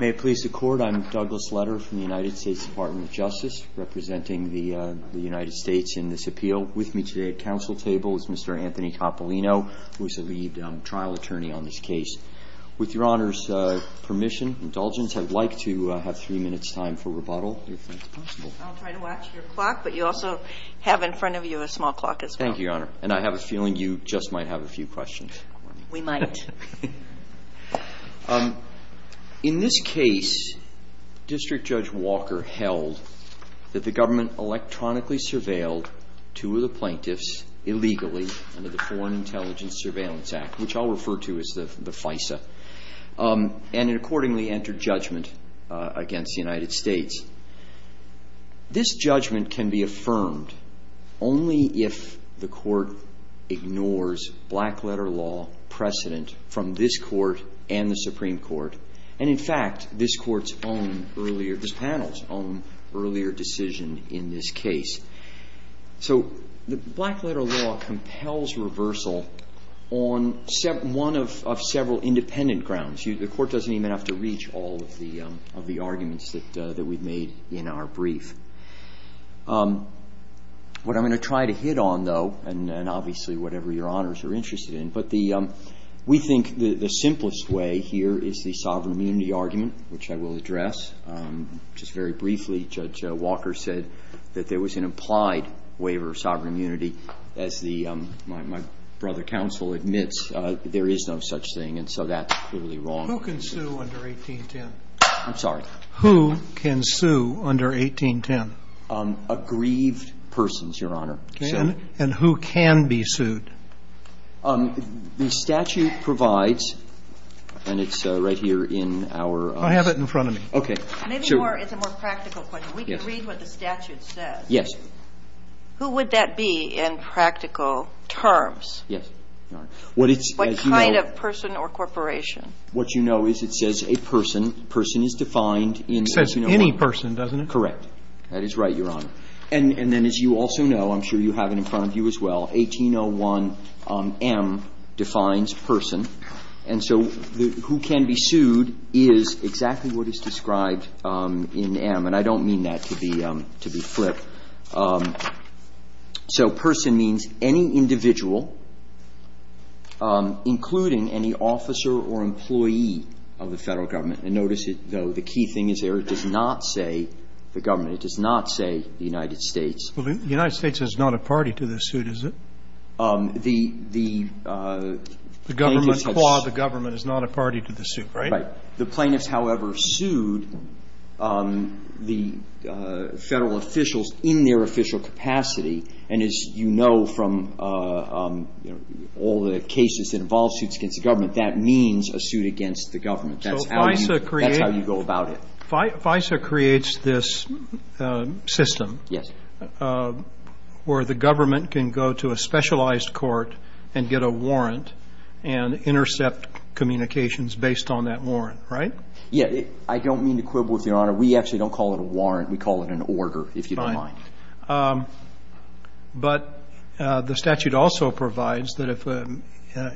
May it please the court, I'm Douglas Leder from the United States Department of Justice representing the United States in this appeal. With me today at council table is Mr. Anthony Coppolino, who is the lead trial attorney on this case. With your Honor's permission, indulgence, I'd like to have three minutes time for rebuttal, if that's possible. I'll try to watch your clock, but you also have in front of you a small clock as well. Thank you, Your Honor. And I have a feeling you just might have a few questions. We might. In this case, District Judge Walker held that the government electronically surveilled two of the plaintiffs illegally under the Foreign Intelligence Surveillance Act, which I'll refer to as the FISA, and accordingly entered judgment against the United States. This judgment can be affirmed only if the court ignores black letter law precedent from this court and the Supreme Court, and in fact, this panel's own earlier decision in this case. So the black letter law compels reversal on one of several independent grounds. The court doesn't even have to reach all of the arguments that we've made in our brief. What I'm going to try to hit on, though, and obviously whatever Your Honors are interested in, but we think the simplest way here is the sovereign immunity argument, which I will address. Just very briefly, Judge Walker said that there was an implied waiver of sovereign immunity. As my brother counsel admits, there is no such thing, and so that's clearly wrong. Who can sue under 1810? I'm sorry. Who can sue under 1810? Aggrieved persons, Your Honor. And who can be sued? The statute provides, and it's right here in our... I have it in front of me. Okay. Maybe more, it's a more practical question. We can read what the statute says. Yes. Who would that be in practical terms? Yes, Your Honor. What kind of person or corporation? What you know is it says a person. Person is defined in 1801. It says any person, doesn't it? Correct. That is right, Your Honor. And then as you also know, I'm sure you have it in front of you as well, 1801m defines person. And so who can be sued is exactly what is described in m. And I don't mean that to be flip. So person means any individual, including any officer or employee of the Federal Government. And notice, though, the key thing is there, it does not say the government. It does not say the United States. Well, the United States is not a party to the suit, is it? The plaintiffs have... The government, the government is not a party to the suit, right? Right. The plaintiffs, however, sued the Federal officials in their official capacity. And as you know from all the cases that involve suits against the government, that means a suit against the government. That's how you go about it. So FISA creates this system... Yes. ...where the government can go to a specialized court and get a warrant and intercept communications based on that warrant, right? Yes. I don't mean to quibble with you, Your Honor. We actually don't call it a warrant. We call it an order, if you don't mind. Fine. But the statute also provides that if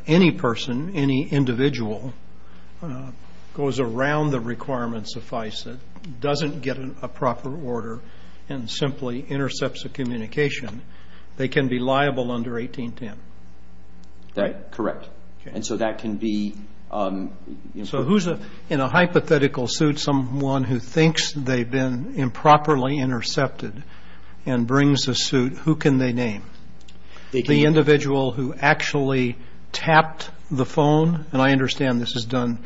any person, any individual, goes around the requirements of FISA, doesn't get a proper order, and simply intercepts a communication, they can be liable under 1810. That's correct. And so that can be... So who's in a hypothetical suit, someone who thinks they've been improperly intercepted and brings a suit, who can they name? The individual who actually tapped the phone, and I understand this is done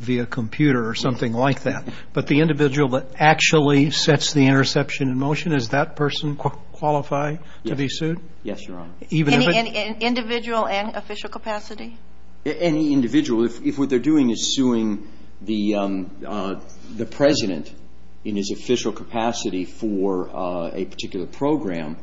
via computer or something like that, but the individual that actually sets the interception in motion, does that person qualify to be sued? Yes, Your Honor. Even if it... Individual and official capacity? Any individual. If what they're doing is suing the President in his official capacity for a particular program,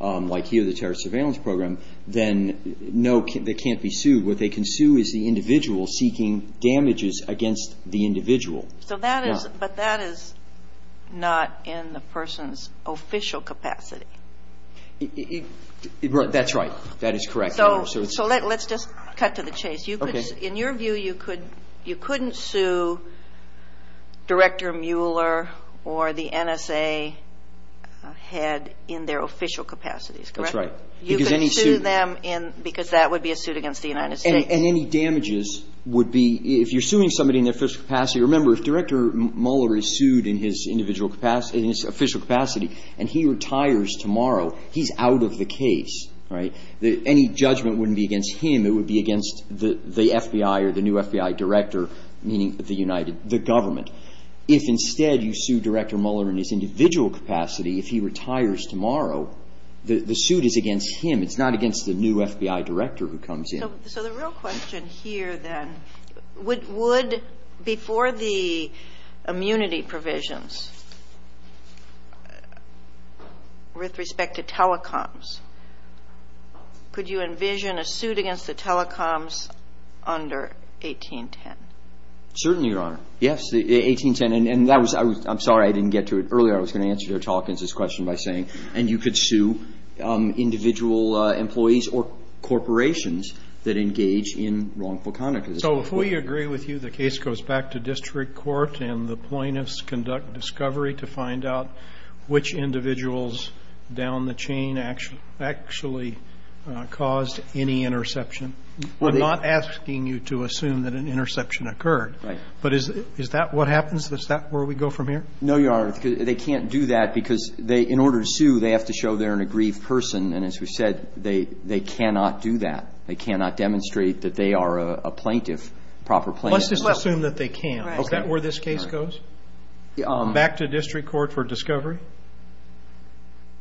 like here the Terrorist Surveillance Program, then no, they can't be sued. What they can sue is the individual seeking damages against the individual. But that is not in the person's official capacity. That's right. That is correct, Your Honor. So let's just cut to the chase. Okay. In your view, you couldn't sue Director Mueller or the NSA head in their official capacities, correct? That's right. Because any suit... You can sue them because that would be a suit against the United States. And any damages would be, if you're suing somebody in their official capacity, remember, if Director Mueller is sued in his individual capacity, in his official case, right, any judgment wouldn't be against him. It would be against the FBI or the new FBI director, meaning the United States, the government. If instead you sue Director Mueller in his individual capacity, if he retires tomorrow, the suit is against him. It's not against the new FBI director who comes in. So the real question here, then, would before the immunity provisions with respect to telecoms, could you envision a suit against the telecoms under 1810? Certainly, Your Honor. Yes. 1810. And that was... I'm sorry I didn't get to it earlier. I was going to answer your question by saying, and you could sue individual employees or corporations that engage in wrongful conduct. I'm not asking you to assume that an interception occurred. Right. But is that what happens? Is that where we go from here? No, Your Honor. They can't do that because they, in order to sue, they have to show they're an aggrieved person. And as we said, they cannot do that. They cannot demonstrate that they are a plaintiff, proper plaintiff. Let's just assume that they can. Right. Is that where this case goes? Back to district court for discovery?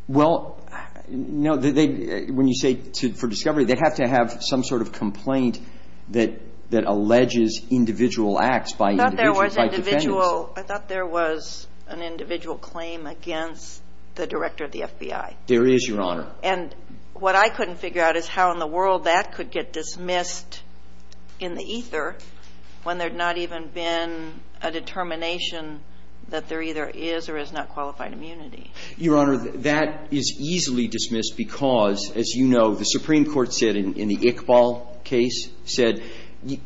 Well, no. When you say for discovery, they have to have some sort of complaint that alleges individual acts by individuals, by defendants. I thought there was an individual claim against the director of the FBI. There is, Your Honor. And what I couldn't figure out is how in the world that could get dismissed in the ether when there had not even been a determination that there either is or is not qualified immunity. Your Honor, that is easily dismissed because, as you know, the Supreme Court said in the Iqbal case, said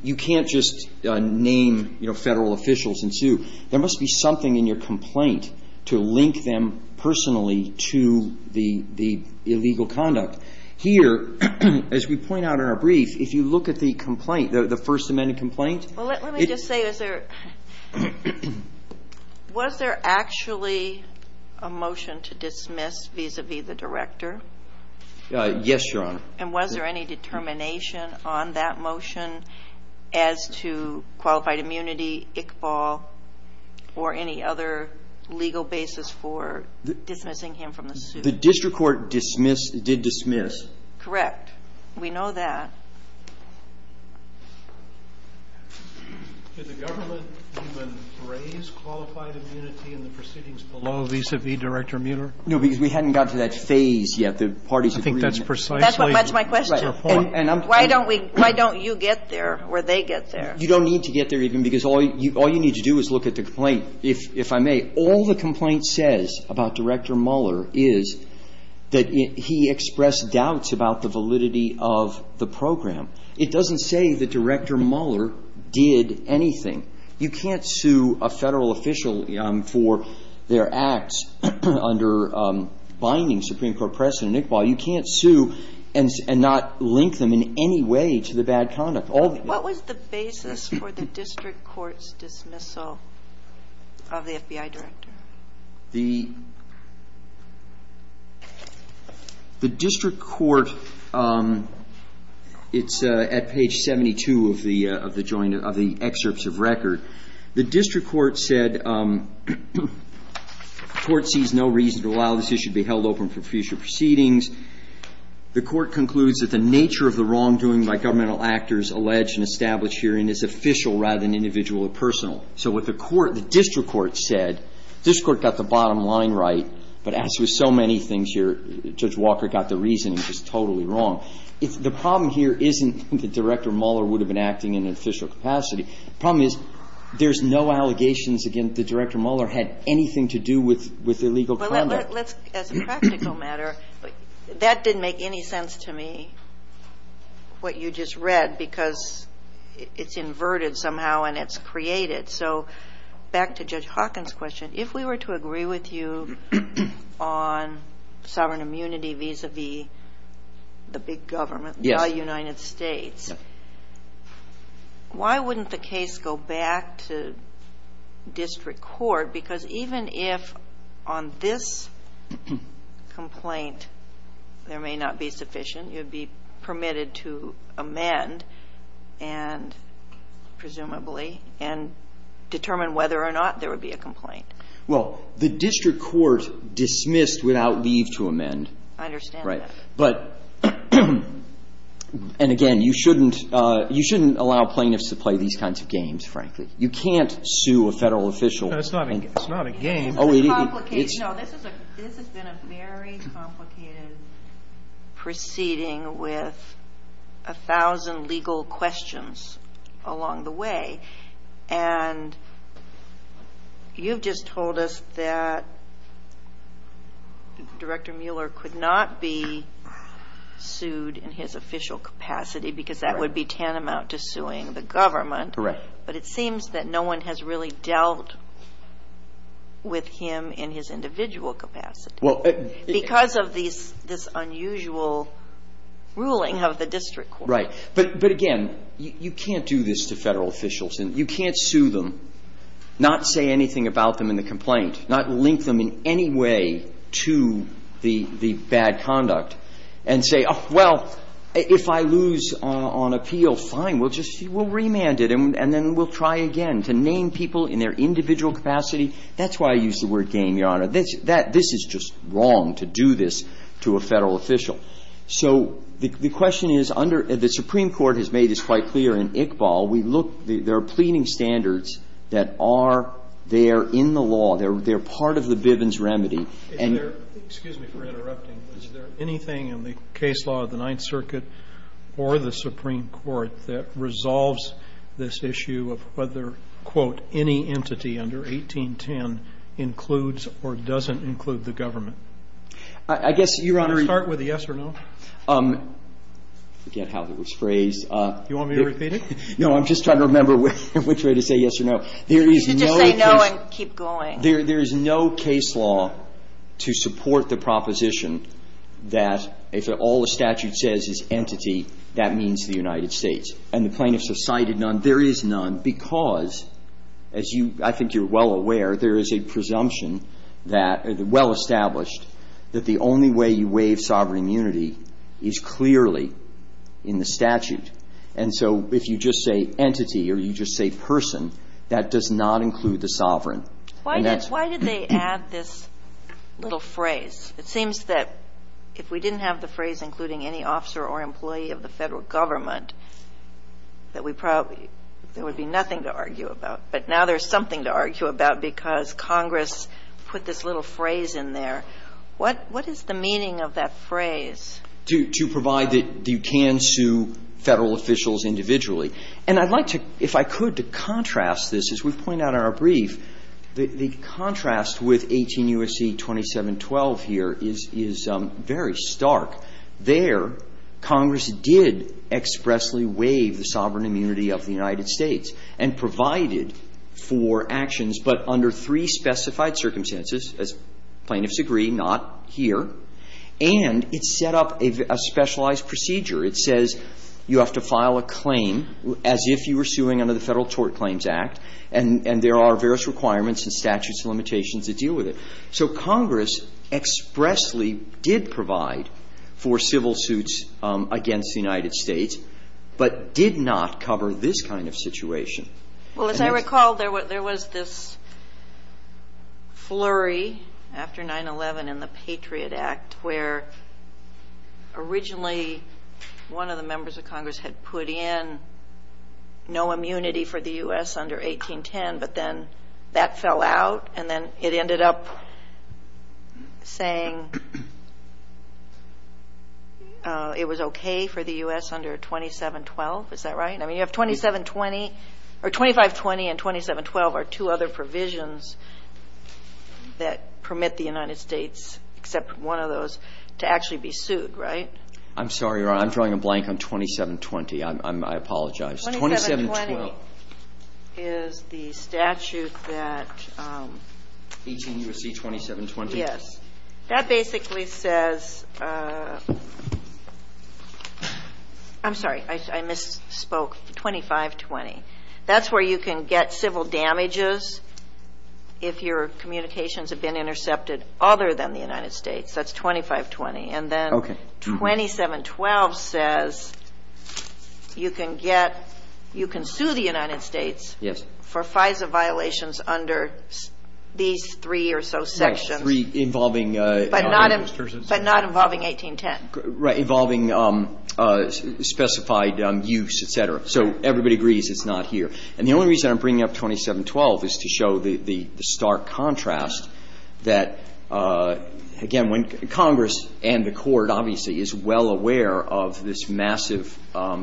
you can't just name, you know, federal officials and sue. There must be something in your complaint to link them personally to the illegal conduct. Here, as we point out in our brief, if you look at the complaint, the First Amendment complaint. Well, let me just say, was there actually a motion to dismiss vis-à-vis the director? Yes, Your Honor. And was there any determination on that motion as to qualified immunity, Iqbal, or any other legal basis for dismissing him from the suit? The district court dismissed, did dismiss. Correct. We know that. Did the government even raise qualified immunity in the proceedings below vis-à-vis Director Mueller? No, because we hadn't got to that phase yet. The parties agreed. I think that's precisely the point. That's my question. Why don't we – why don't you get there or they get there? You don't need to get there even because all you need to do is look at the complaint. If I may, all the complaint says about Director Mueller is that he expressed doubts about the validity of the program. It doesn't say that Director Mueller did anything. You can't sue a Federal official for their acts under binding Supreme Court precedent. Iqbal, you can't sue and not link them in any way to the bad conduct. What was the basis for the district court's dismissal of the FBI director? The district court – it's at page 72 of the joint – of the excerpts of record. The district court said, the court sees no reason to allow this issue to be held open for future proceedings. The court concludes that the nature of the wrongdoing by governmental actors alleged and established herein is official rather than individual or personal. So what the court – the district court said – the district court got the bottom line right, but as with so many things here, Judge Walker got the reasoning just totally wrong. The problem here isn't that Director Mueller would have been acting in an official capacity. The problem is there's no allegations against that Director Mueller had anything to do with illegal conduct. As a practical matter, that didn't make any sense to me, what you just read, because it's inverted somehow and it's created. So back to Judge Hawkins' question, if we were to agree with you on sovereign immunity vis-à-vis the big government, the United States, why wouldn't the case go back to district court? Because even if on this complaint there may not be sufficient, you'd be permitted to amend and presumably and determine whether or not there would be a complaint. Well, the district court dismissed without leave to amend. I understand that. Right. But, and again, you shouldn't – you shouldn't allow plaintiffs to play these kinds of games, frankly. You can't sue a Federal official. It's not a game. It's a complicated – no, this has been a very complicated proceeding with a thousand legal questions along the way. And you've just told us that Director Mueller could not be sued in his official capacity because that would be tantamount to suing the government. Correct. But it seems that no one has really dealt with him in his individual capacity because of these – this unusual ruling of the district court. Right. But, again, you can't do this to Federal officials. You can't sue them, not say anything about them in the complaint, not link them in any way to the bad conduct and say, oh, well, if I lose on appeal, fine, we'll just – we'll remand it and then we'll try again to name people in their individual capacity. That's why I use the word game, Your Honor. This is just wrong to do this to a Federal official. So the question is under – the Supreme Court has made this quite clear in Iqbal. We look – there are pleading standards that are there in the law. They're part of the Bivens remedy. And they're – excuse me for interrupting. Is there anything in the case law of the Ninth Circuit or the Supreme Court that resolves this issue of whether, quote, any entity under 1810 includes or doesn't include the government? I guess, Your Honor – Do you want to start with a yes or no? I forget how it was phrased. Do you want me to repeat it? No, I'm just trying to remember which way to say yes or no. You should just say no and keep going. There is no case law to support the proposition that if all the statute says is entity, that means the United States. And the plaintiffs have cited none. There is none because, as you – I think you're well aware, there is a presumption that – well established that the only way you waive sovereign immunity is clearly in the statute. And so if you just say entity or you just say person, that does not include the sovereign. Why did they add this little phrase? It seems that if we didn't have the phrase including any officer or employee of the Federal Government, that we probably – there would be nothing to argue about. But now there's something to argue about because Congress put this little phrase in there. What is the meaning of that phrase? To provide that you can sue Federal officials individually. And I'd like to, if I could, to contrast this. As we've pointed out in our brief, the contrast with 18 U.S.C. 2712 here is very stark. There, Congress did expressly waive the sovereign immunity of the United States and provided for actions, but under three specified circumstances. As plaintiffs agree, not here. And it set up a specialized procedure. It says you have to file a claim as if you were suing under the Federal Tort Claims Act, and there are various requirements and statutes and limitations that deal with it. So Congress expressly did provide for civil suits against the United States, but did not cover this kind of situation. Well, as I recall, there was this flurry after 9-11 in the Patriot Act where originally one of the members of Congress had put in no immunity for the U.S. under 1810, but then that fell out, and then it ended up saying it was okay for the U.S. under 2712. Is that right? I mean, you have 2720 or 2520 and 2712 are two other provisions that permit the United States, except one of those, to actually be sued, right? I'm sorry, Your Honor. I'm drawing a blank on 2720. I apologize. 2712. 2720 is the statute that 18 U.S.C. 2720. Yes. That basically says – I'm sorry. I misspoke. 2520. That's where you can get civil damages if your communications have been intercepted other than the United States. That's 2520. Okay. And then 2712 says you can get – you can sue the United States for FISA violations under these three or so sections. Yes. Three involving – But not involving 1810. Right. Involving specified use, et cetera. So everybody agrees it's not here. And the only reason I'm bringing up 2712 is to show the stark contrast that, again, when Congress and the Court obviously is well aware of this massive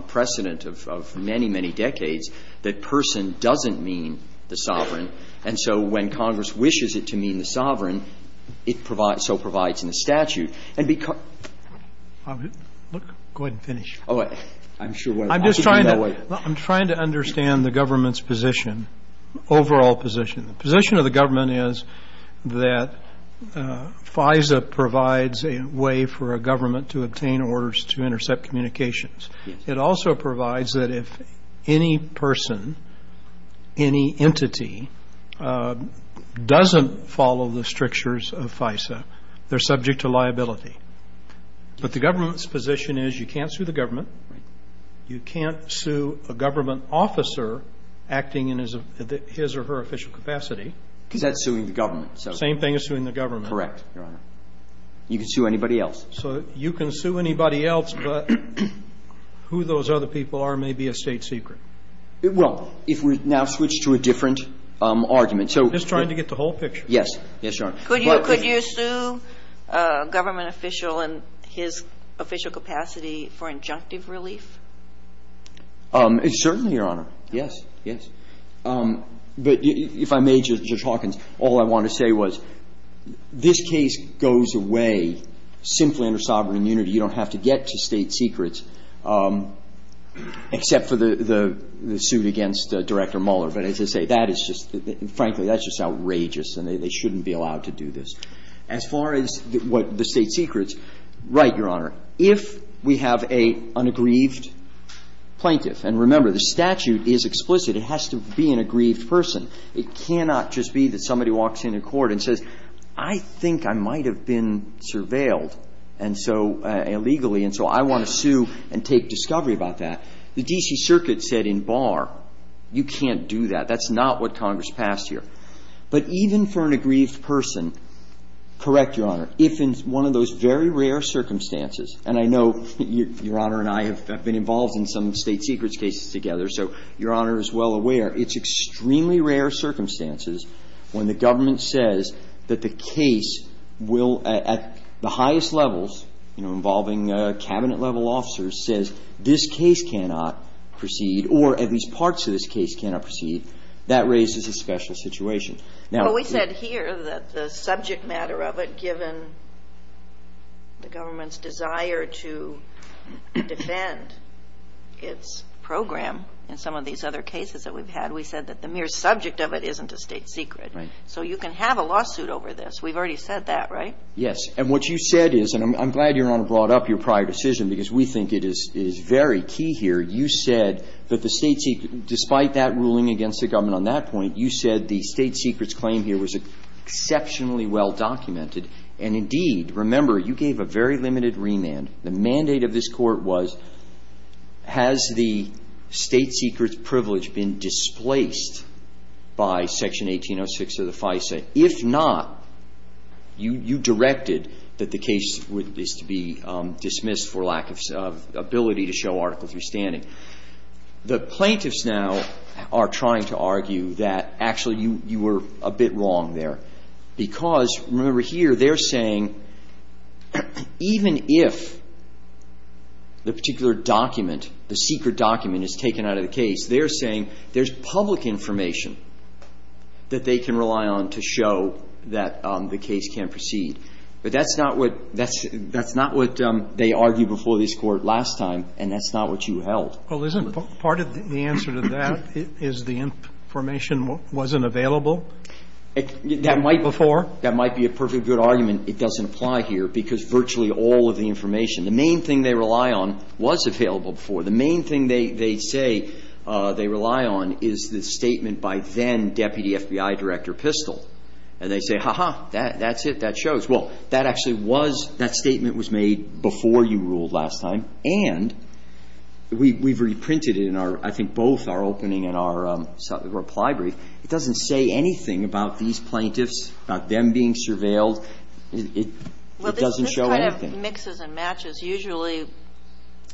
precedent of many, many decades, that person doesn't mean the sovereign. And so when Congress wishes it to mean the sovereign, it provides – so provides in the statute. And because – Go ahead and finish. Oh, I'm sure one of the questions is that. I'm just trying to – I'm trying to understand the government's position, overall position. The position of the government is that FISA provides a way for a government to obtain orders to intercept communications. It also provides that if any person, any entity doesn't follow the strictures of FISA, they're subject to liability. But the government's position is you can't sue the government. Right. I'm just trying to get the whole picture. Yes. Yes, Your Honor. Could you sue a government official in his official capacity for injunctive relief? Certainly, Your Honor. in his official capacity for injunctive relief. Well, I'm not going to say, Judge Hawkins, all I want to say was this case goes away simply under sovereign immunity. You don't have to get to State Secrets except for the suit against Director Mueller. But as I say, that is just – frankly, that's just outrageous, and they shouldn't be allowed to do this. As far as what the State Secrets – right, Your Honor. If we have an unaggrieved plaintiff – and remember, the statute is explicit. It has to be an aggrieved person. It cannot just be that somebody walks into court and says, I think I might have been surveilled, and so – illegally, and so I want to sue and take discovery about that. The D.C. Circuit said in Barr, you can't do that. That's not what Congress passed here. But even for an aggrieved person, correct, Your Honor, if in one of those very rare circumstances – and I know Your Honor and I have been involved in some State Secrets cases together, so Your Honor is well aware – it's extremely rare circumstances when the government says that the case will – at the highest levels, you know, involving Cabinet-level officers, says this case cannot proceed, or at least parts of this case cannot proceed, that raises a special situation. Now – But we said here that the subject matter of it, given the government's desire to defend its program in some of these other cases that we've had, we said that the mere subject of it isn't a State Secret. Right. So you can have a lawsuit over this. We've already said that, right? Yes. And what you said is – and I'm glad Your Honor brought up your prior decision because we think it is very key here. You said that the State Secret – despite that ruling against the government on that point, you said the State Secrets claim here was exceptionally well-documented. And indeed, remember, you gave a very limited remand. The mandate of this Court was, has the State Secrets privilege been displaced by Section 1806 of the FISA? If not, you directed that the case would – is to be dismissed for lack of ability to show Article III standing. The plaintiffs now are trying to argue that actually you were a bit wrong there because, remember here, they're saying even if the particular document, the secret document is taken out of the case, they're saying there's public information that they can rely on to show that the case can proceed. But that's not what – that's not what they argued before this Court last time, and that's not what you held. Well, isn't part of the answer to that is the information wasn't available? That might before – that might be a perfectly good argument. It doesn't apply here because virtually all of the information – the main thing they rely on was available before. The main thing they say they rely on is the statement by then-Deputy FBI Director Pistole. And they say, ha-ha, that's it, that shows. Well, that actually was – that statement was made before you ruled last time, and we've reprinted it in our – I think both our opening and our reply brief. It doesn't say anything about these plaintiffs, about them being surveilled. It doesn't show anything. Well, this kind of mixes and matches. Usually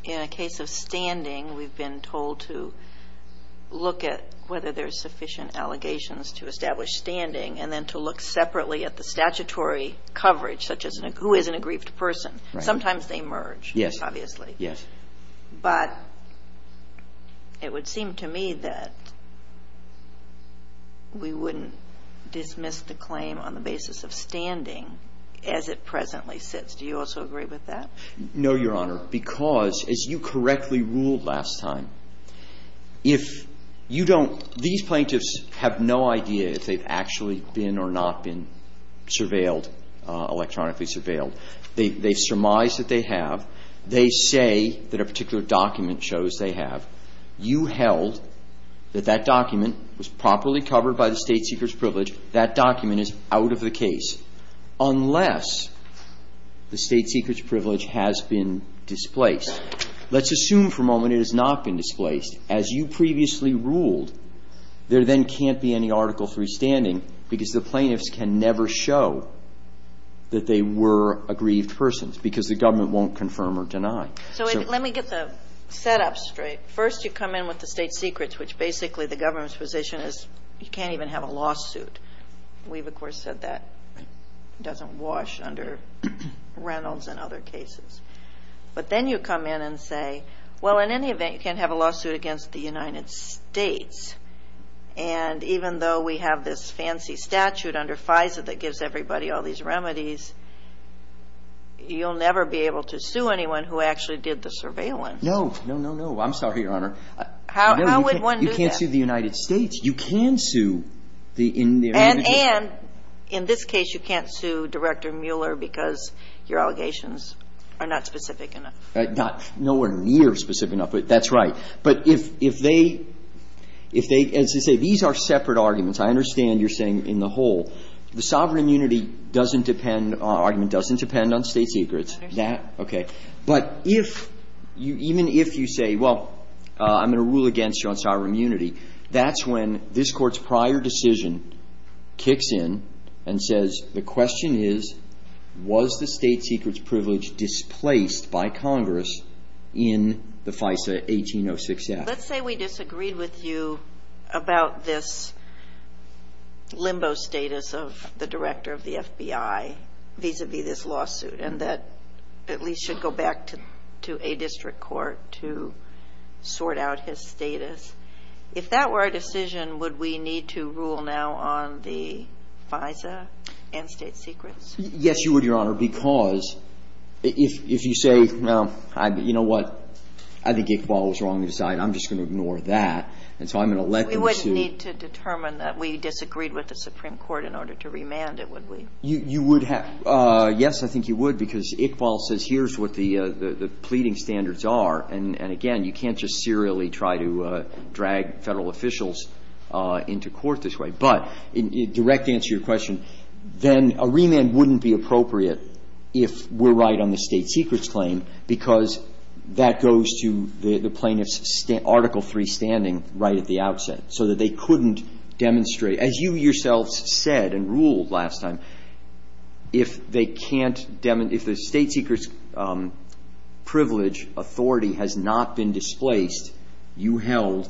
in a case of standing, we've been told to look at whether there's sufficient allegations to establish standing and then to look separately at the statutory coverage, such as who is an aggrieved person. Sometimes they merge, obviously. Yes. But it would seem to me that we wouldn't dismiss the claim on the basis of standing as it presently sits. Do you also agree with that? No, Your Honor, because as you correctly ruled last time, if you don't – these plaintiffs have no idea if they've actually been or not been surveilled, electronically surveilled. They've surmised that they have. They say that a particular document shows they have. You held that that document was properly covered by the State Secrets Privilege. That document is out of the case, unless the State Secrets Privilege has been displaced. Let's assume for a moment it has not been displaced. As you previously ruled, there then can't be any Article III standing because the plaintiffs can never show that they were aggrieved persons because the government won't confirm or deny. So let me get the setup straight. First, you come in with the State Secrets, which basically the government's position is you can't even have a lawsuit. We've, of course, said that doesn't wash under Reynolds and other cases. But then you come in and say, well, in any event, you can't have a lawsuit against the United States. And even though we have this fancy statute under FISA that gives everybody all the powers, you can't sue the United States. And then you have the same thing with the government. So if you go through all of these remedies, you'll never be able to sue anyone who actually did the surveillance. No. No, no, no. I'm sorry, Your Honor. How would one do that? You can't sue the United States. You can sue the individual. And in this case, you can't sue Director Mueller because your allegations are not specific enough. Not near specific enough. That's right. But if they, as they say, these are separate arguments. I understand you're saying in the whole. The sovereign immunity argument doesn't depend on State Secrets. That, okay. But even if you say, well, I'm going to rule against you on sovereign immunity, that's when this Court's prior decision kicks in and says, the question is, was the State Secrets privilege displaced by Congress in the FISA 1806 act? Let's say we disagreed with you about this limbo status of the Director of the FBI vis-à-vis this lawsuit and that at least should go back to a district court to sort out his status. If that were a decision, would we need to rule now on the FISA and State Secrets? Yes, you would, Your Honor, because if you say, well, you know what, I think Iqbal was wrong to decide. I'm just going to ignore that. And so I'm going to let them sue. We wouldn't need to determine that we disagreed with the Supreme Court in order to remand it, would we? You would have. So, yes, I think you would, because Iqbal says here's what the pleading standards are. And, again, you can't just serially try to drag Federal officials into court this way. But in direct answer to your question, then a remand wouldn't be appropriate if we're right on the State Secrets claim because that goes to the plaintiff's Article III standing right at the outset, so that they couldn't demonstrate As you yourselves said and ruled last time, if they can't demon – if the State Secrets privilege authority has not been displaced, you held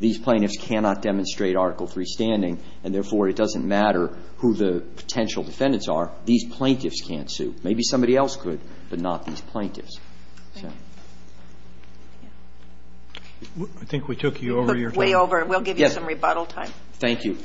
these plaintiffs cannot demonstrate Article III standing, and therefore it doesn't matter who the potential defendants are. These plaintiffs can't sue. Maybe somebody else could, but not these plaintiffs. I think we took you over your time. We'll give you some rebuttal time. Thank you.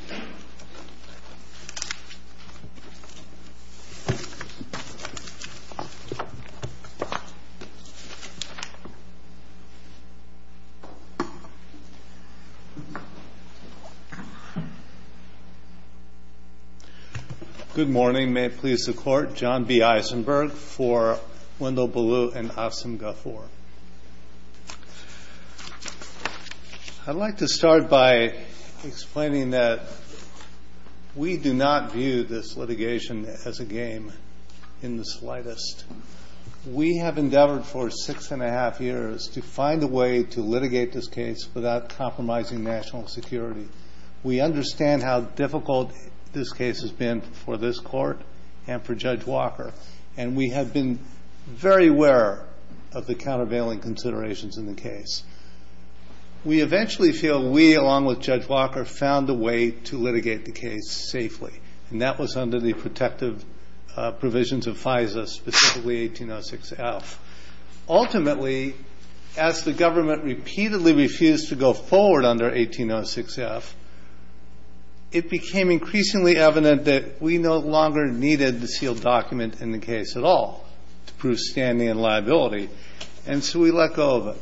Good morning. May it please the Court. John B. Eisenberg for Wendell Ballew and Afsim Ghafour. I'd like to start by explaining that we do not view this litigation as a game in the slightest. We have endeavored for six and a half years to find a way to litigate this case without compromising national security. We understand how difficult this case has been for this Court and for Judge Walker. We eventually feel we, along with Judge Walker, found a way to litigate the case safely, and that was under the protective provisions of FISA, specifically 1806F. Ultimately, as the government repeatedly refused to go forward under 1806F, it became increasingly evident that we no longer needed the sealed document in the case at all to prove standing and liability. And so we let go of it.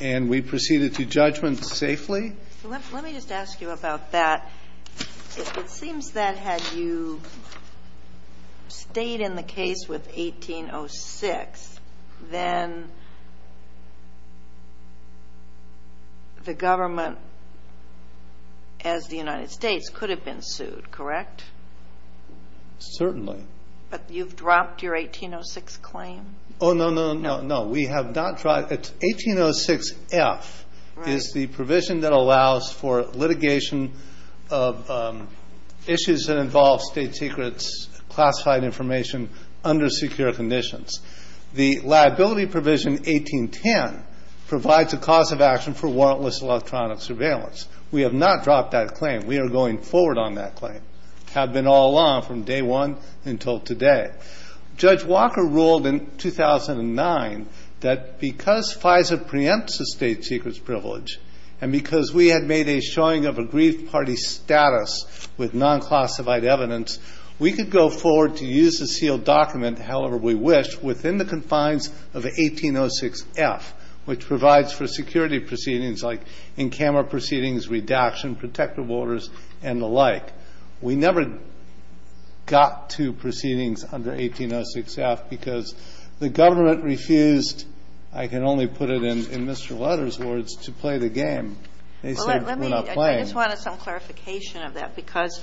And we proceeded to judgment safely. Let me just ask you about that. It seems that had you stayed in the case with 1806, then the government, as the United States, could have been sued, correct? Certainly. But you've dropped your 1806 claim? Oh, no, no, no, no. We have not dropped it. 1806F is the provision that allows for litigation of issues that involve state secrets, classified information under secure conditions. The liability provision 1810 provides a cause of action for warrantless electronic surveillance. We have not dropped that claim. We are going forward on that claim. We have been all along, from day one until today. Judge Walker ruled in 2009 that because FISA preempts a state secrets privilege and because we had made a showing of aggrieved party status with non-classified evidence, we could go forward to use the sealed document, however we wish, within the confines of 1806F, which provides for security proceedings like in-camera proceedings, redaction, protective orders, and the like. We never got to proceedings under 1806F because the government refused, I can only put it in Mr. Lutter's words, to play the game. They said we're not playing. I just wanted some clarification of that, because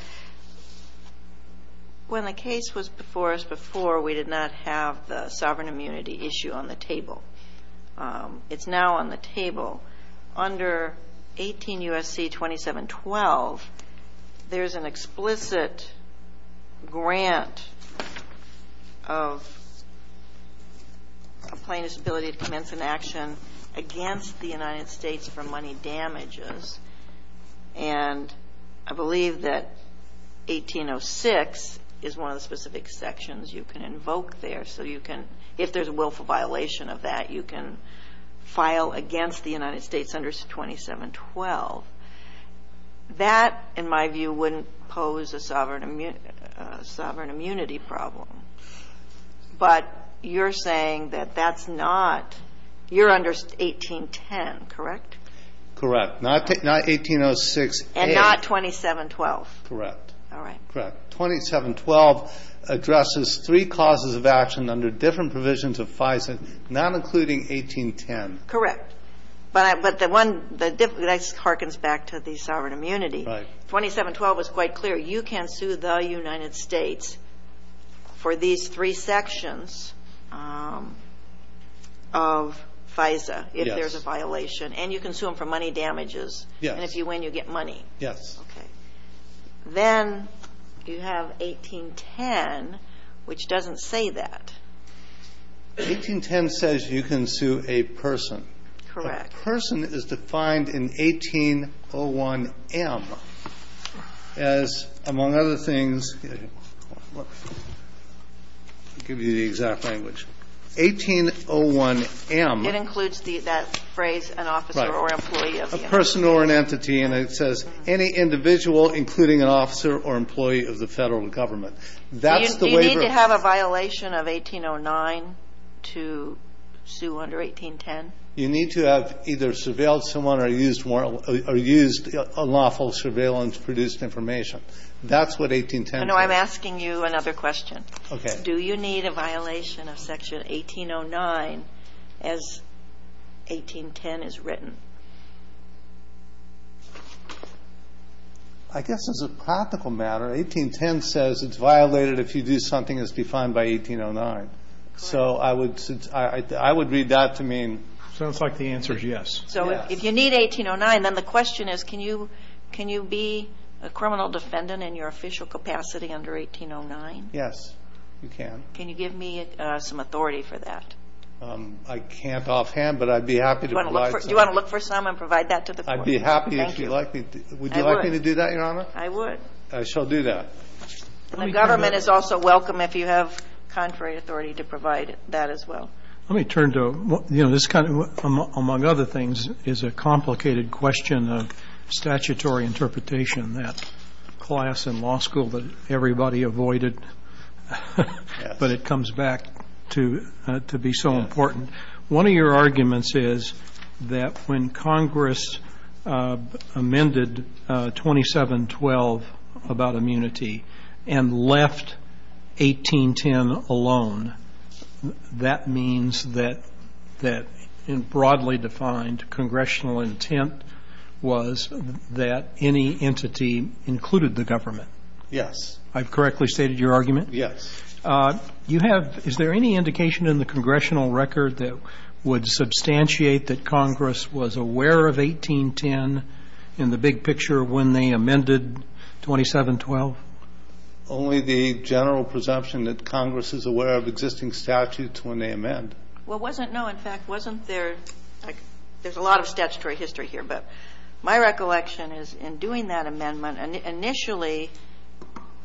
when the case was before us before, we did not have the sovereign immunity issue on the table. It's now on the table. Under 18 U.S.C. 2712, there's an explicit grant of plaintiff's ability to commence an action against the United States for money damages, and I believe that 1806 is one of the specific sections you can invoke there. So you can, if there's a willful violation of that, you can file against the United States under 2712. That, in my view, wouldn't pose a sovereign immunity problem. But you're saying that that's not you're under 1810, correct? Correct. Not 1806A. And not 2712. Correct. All right. Correct. 2712 addresses three causes of action under different provisions of FISA, not including 1810. Correct. But the one that harkens back to the sovereign immunity. Right. 2712 is quite clear. You can sue the United States for these three sections of FISA if there's a violation. Yes. And you can sue them for money damages. Yes. And if you win, you get money. Yes. Okay. Then you have 1810, which doesn't say that. 1810 says you can sue a person. Correct. A person is defined in 1801M as, among other things, I'll give you the exact language. 1801M. It includes that phrase, an officer or employee of the entity. Right. A person or an entity. And it says any individual, including an officer or employee of the Federal Government. Do you need to have a violation of 1809 to sue under 1810? You need to have either surveilled someone or used unlawful surveillance-produced information. That's what 1810 says. No, I'm asking you another question. Okay. Do you need a violation of Section 1809 as 1810 is written? I guess as a practical matter, 1810 says it's violated if you do something as defined by 1809. So I would read that to mean. Sounds like the answer is yes. So if you need 1809, then the question is can you be a criminal defendant in your official capacity under 1809? Yes, you can. Can you give me some authority for that? I can't offhand, but I'd be happy to provide some. Do you want to look for some and provide that to the court? I'd be happy if you'd like me to. Would you like me to do that, Your Honor? I would. I shall do that. And the government is also welcome if you have contrary authority to provide that as well. Let me turn to, you know, this kind of, among other things, is a complicated question of statutory interpretation, that class in law school that everybody avoided, but it comes back to be so important. And one of your arguments is that when Congress amended 2712 about immunity and left 1810 alone, that means that broadly defined congressional intent was that any entity included the government. Yes. I've correctly stated your argument? Yes. You have, is there any indication in the congressional record that would substantiate that Congress was aware of 1810 in the big picture when they amended 2712? Only the general presumption that Congress is aware of existing statutes when they amend. Well, wasn't, no, in fact, wasn't there, there's a lot of statutory history here, but my recollection is in doing that amendment, initially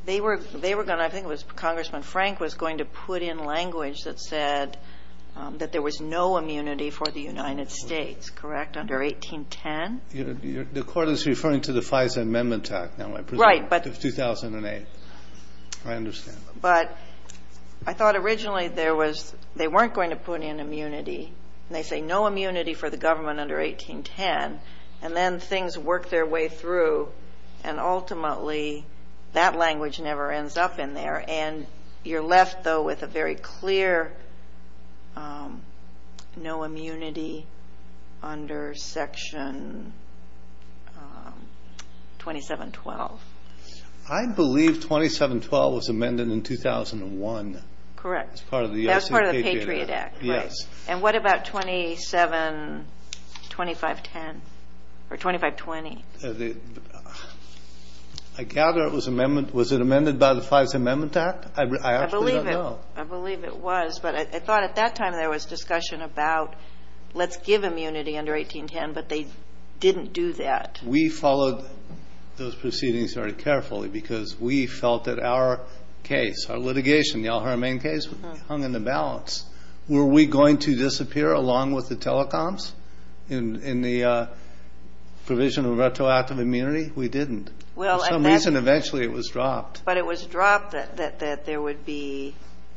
they were going to, I think it was Congressman Frank was going to put in language that said that there was no immunity for the United States, correct, under 1810? The court is referring to the FISA Amendment Act now, I presume. Right. 2008. I understand. But I thought originally there was, they weren't going to put in immunity, and they say no immunity for the government under 1810, and then things work their way through, and ultimately that language never ends up in there. And you're left, though, with a very clear no immunity under Section 2712. I believe 2712 was amended in 2001. Correct. As part of the ICPJ Act. As part of the Patriot Act, right. Yes. And what about 272510 or 2520? I gather it was amendment, was it amended by the FISA Amendment Act? I actually don't know. I believe it was, but I thought at that time there was discussion about let's give immunity under 1810, but they didn't do that. We followed those proceedings very carefully because we felt that our case, our litigation, the Al-Haramain case, hung in the balance. Were we going to disappear along with the telecoms in the provision of retroactive immunity? We didn't. For some reason, eventually it was dropped. But it was dropped that there would be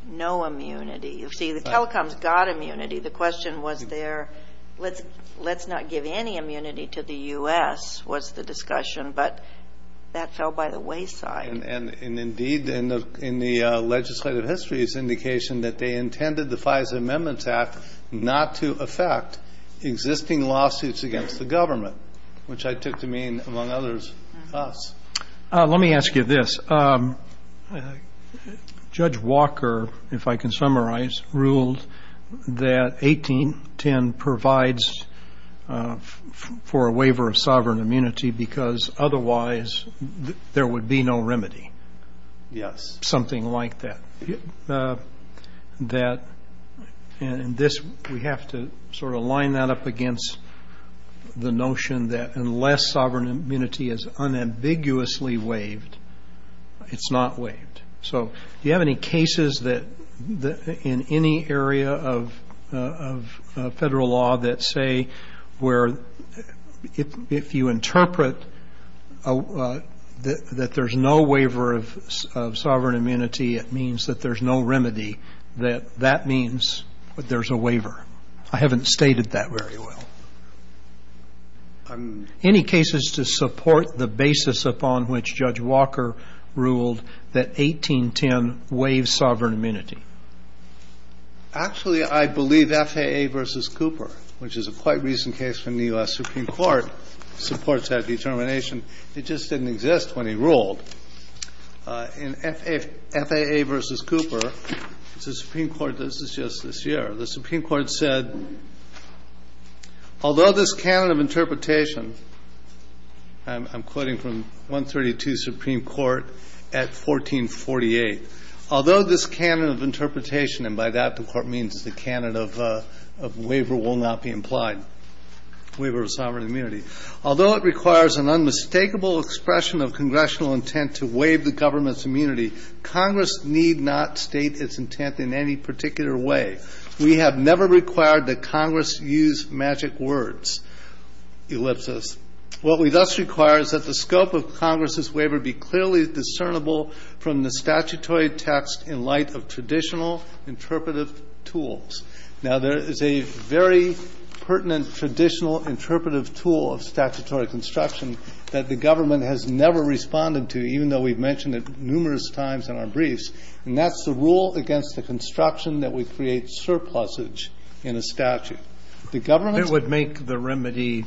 no immunity. You see, the telecoms got immunity. The question was there, let's not give any immunity to the U.S., was the discussion, but that fell by the wayside. And indeed, in the legislative history, it's indication that they intended the FISA Amendments Act not to affect existing lawsuits against the government, which I took to mean, among others, us. Let me ask you this. Judge Walker, if I can summarize, ruled that 1810 provides for a waiver of sovereign immunity because otherwise there would be no remedy. Yes. Something like that. And this, we have to sort of line that up against the notion that unless sovereign immunity is unambiguously waived, it's not waived. So do you have any cases that in any area of federal law that say where if you interpret that there's no waiver of sovereign immunity, it means that there's no remedy, that that means that there's a waiver? I haven't stated that very well. Any cases to support the basis upon which Judge Walker ruled that 1810 waives sovereign immunity? Actually, I believe FAA v. Cooper, which is a quite recent case from the U.S. Supreme Court, supports that determination. It just didn't exist when he ruled. In FAA v. Cooper, the Supreme Court, this is just this year, the Supreme Court said, although this canon of interpretation, I'm quoting from 132 Supreme Court at 1448, although this canon of interpretation, and by that the Court means the canon of waiver will not be implied, waiver of sovereign immunity, although it requires an unmistakable expression of congressional intent to waive the government's We have never required that Congress use magic words, ellipsis. What we thus require is that the scope of Congress's waiver be clearly discernible from the statutory text in light of traditional interpretive tools. Now, there is a very pertinent traditional interpretive tool of statutory construction that the government has never responded to, even though we've mentioned it numerous times in our briefs. And that's the rule against the construction that would create surplusage in a statute. The government's It would make the remedy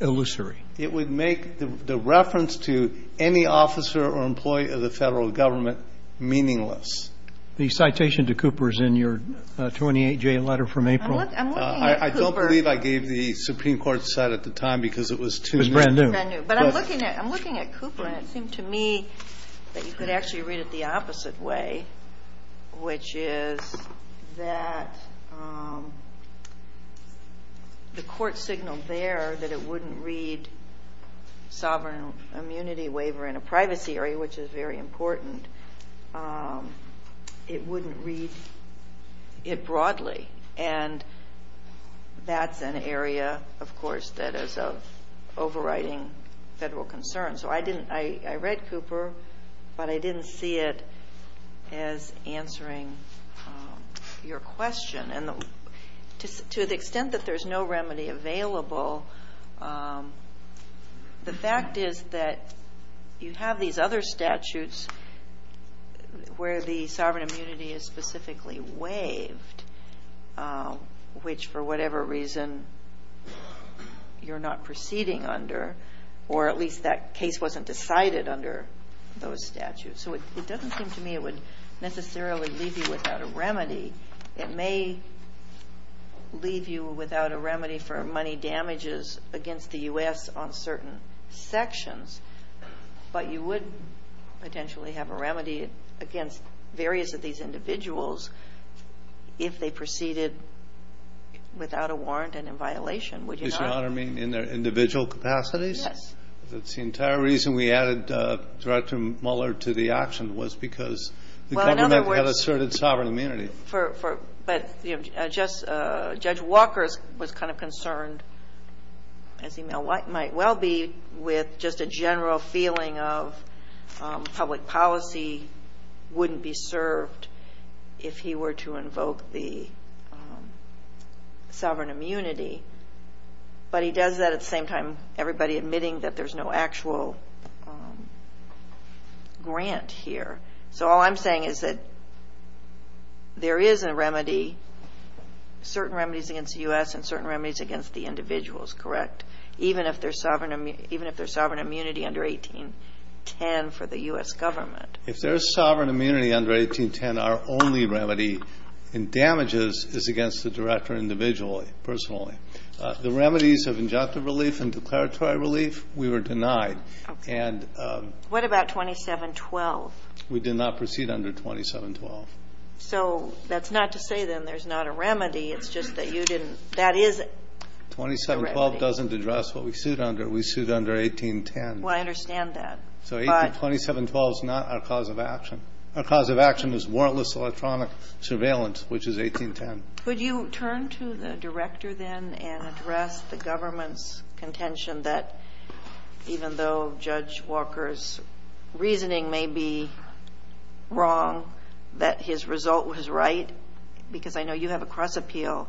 illusory. It would make the reference to any officer or employee of the Federal Government meaningless. The citation to Cooper is in your 28J letter from April. I'm looking at Cooper. I don't believe I gave the Supreme Court's side at the time because it was too new. It was brand new. It was brand new. But I'm looking at Cooper, and it seemed to me that you could actually read it the way, which is that the court signaled there that it wouldn't read sovereign immunity waiver in a privacy area, which is very important. It wouldn't read it broadly. And that's an area, of course, that is overriding federal concerns. So I read Cooper, but I didn't see it as answering your question. And to the extent that there's no remedy available, the fact is that you have these other statutes where the sovereign immunity is specifically waived, which for whatever reason you're not proceeding under, or at least that case wasn't decided under those statutes. So it doesn't seem to me it would necessarily leave you without a remedy. It may leave you without a remedy for money damages against the U.S. on certain sections, but you would potentially have a remedy against various of these individuals if they proceeded without a warrant and in violation, would you not? Mr. Honor, you mean in their individual capacities? Yes. The entire reason we added Director Mueller to the auction was because the government had asserted sovereign immunity. But, you know, Judge Walker was kind of concerned, as he might well be, with just a general feeling of public policy wouldn't be served if he were to invoke the sovereign immunity. But he does that at the same time everybody admitting that there's no actual grant here. So all I'm saying is that there is a remedy, certain remedies against the U.S. and certain remedies against the individuals, correct? Even if there's sovereign immunity under 1810 for the U.S. government. If there's sovereign immunity under 1810, our only remedy in damages is against the director individually, personally. The remedies of injunctive relief and declaratory relief, we were denied. Okay. What about 2712? We did not proceed under 2712. So that's not to say, then, there's not a remedy. It's just that you didn't. That is a remedy. 2712 doesn't address what we sued under. We sued under 1810. Well, I understand that. But. So 2712 is not our cause of action. Our cause of action is warrantless electronic surveillance, which is 1810. Could you turn to the director, then, and address the government's contention that even though Judge Walker's reasoning may be wrong, that his result was right? Because I know you have a cross appeal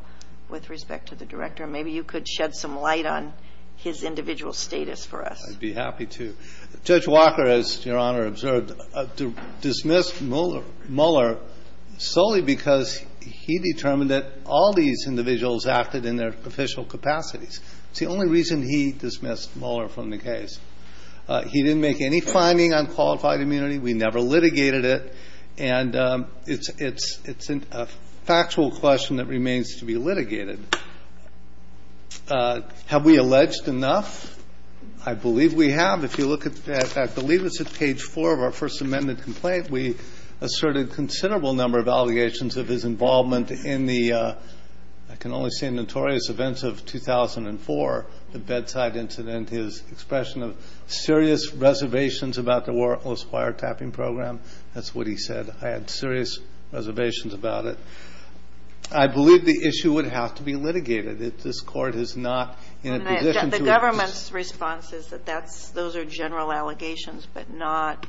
with respect to the director. Maybe you could shed some light on his individual status for us. I'd be happy to. Judge Walker, as Your Honor observed, dismissed Mueller solely because he determined that all these individuals acted in their official capacities. It's the only reason he dismissed Mueller from the case. He didn't make any finding on qualified immunity. We never litigated it. And it's a factual question that remains to be litigated. Have we alleged enough? I believe we have. If you look at, I believe it's at page 4 of our First Amendment complaint, we asserted a considerable number of allegations of his involvement in the, I can only say, notorious events of 2004, the bedside incident, his expression of serious reservations about the warrantless wiretapping program. That's what he said. I had serious reservations about it. I believe the issue would have to be litigated. This Court is not in a position to The government's response is that those are general allegations, but not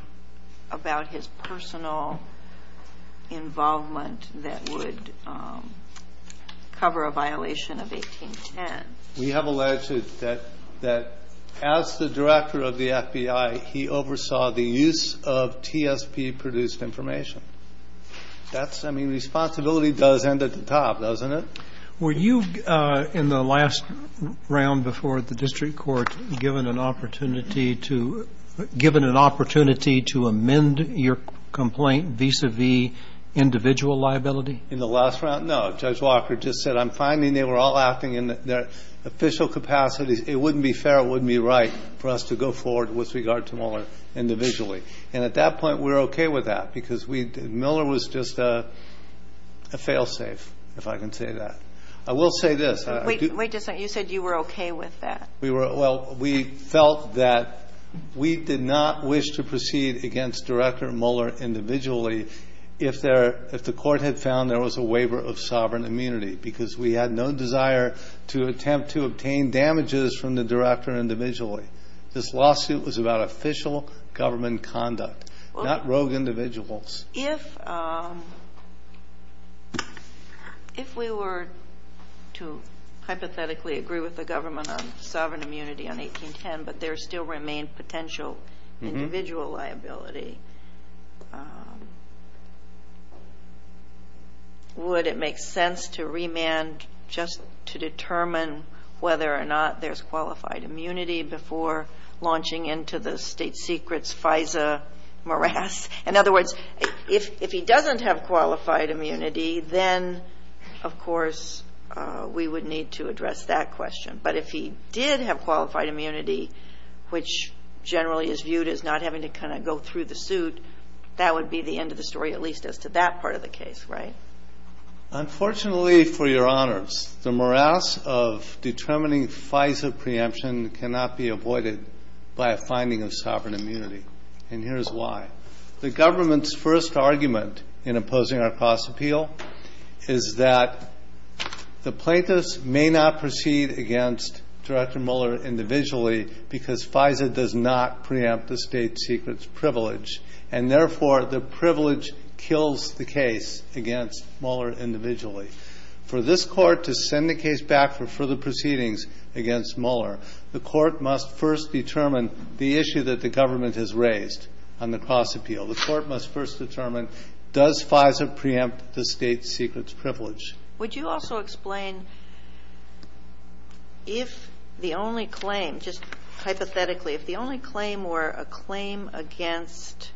about his personal involvement that would cover a violation of 1810. We have alleged that as the director of the FBI, he oversaw the use of TSP-produced information. I mean, responsibility does end at the top, doesn't it? Were you, in the last round before the district court, given an opportunity to amend your complaint vis-à-vis individual liability? In the last round, no. Judge Walker just said, I'm finding they were all acting in their official capacities. It wouldn't be fair, it wouldn't be right, for us to go forward with regard to Miller individually. And at that point, we're okay with that because Miller was just a fail-safe, if I can say that. I will say this. Wait just a second. You said you were okay with that. Well, we felt that we did not wish to proceed against Director Miller individually if the court had found there was a waiver of sovereign immunity because we had no desire to attempt to obtain damages from the director individually. This lawsuit was about official government conduct, not rogue individuals. If we were to hypothetically agree with the government on sovereign immunity on 1810, but there still remained potential individual liability, would it make sense to remand just to determine whether or not there's qualified immunity before launching into the state secret's FISA morass? In other words, if he doesn't have qualified immunity, then of course we would need to address that question. But if he did have qualified immunity, which generally is viewed as not having to kind of go through the suit, that would be the end of the story, at least as to that part of the case, right? Unfortunately, for your honors, the morass of determining FISA preemption cannot be avoided by a finding of sovereign immunity, and here's why. The government's first argument in opposing our cross-appeal is that the plaintiffs may not proceed against Director Miller individually because FISA does not preempt the state secret's privilege, and therefore the privilege kills the case against Miller individually. For this Court to send the case back for further proceedings against Miller, the Court must first determine the issue that the government has raised on the cross-appeal. The Court must first determine does FISA preempt the state secret's privilege. Would you also explain if the only claim, just hypothetically, if the only claim were a claim against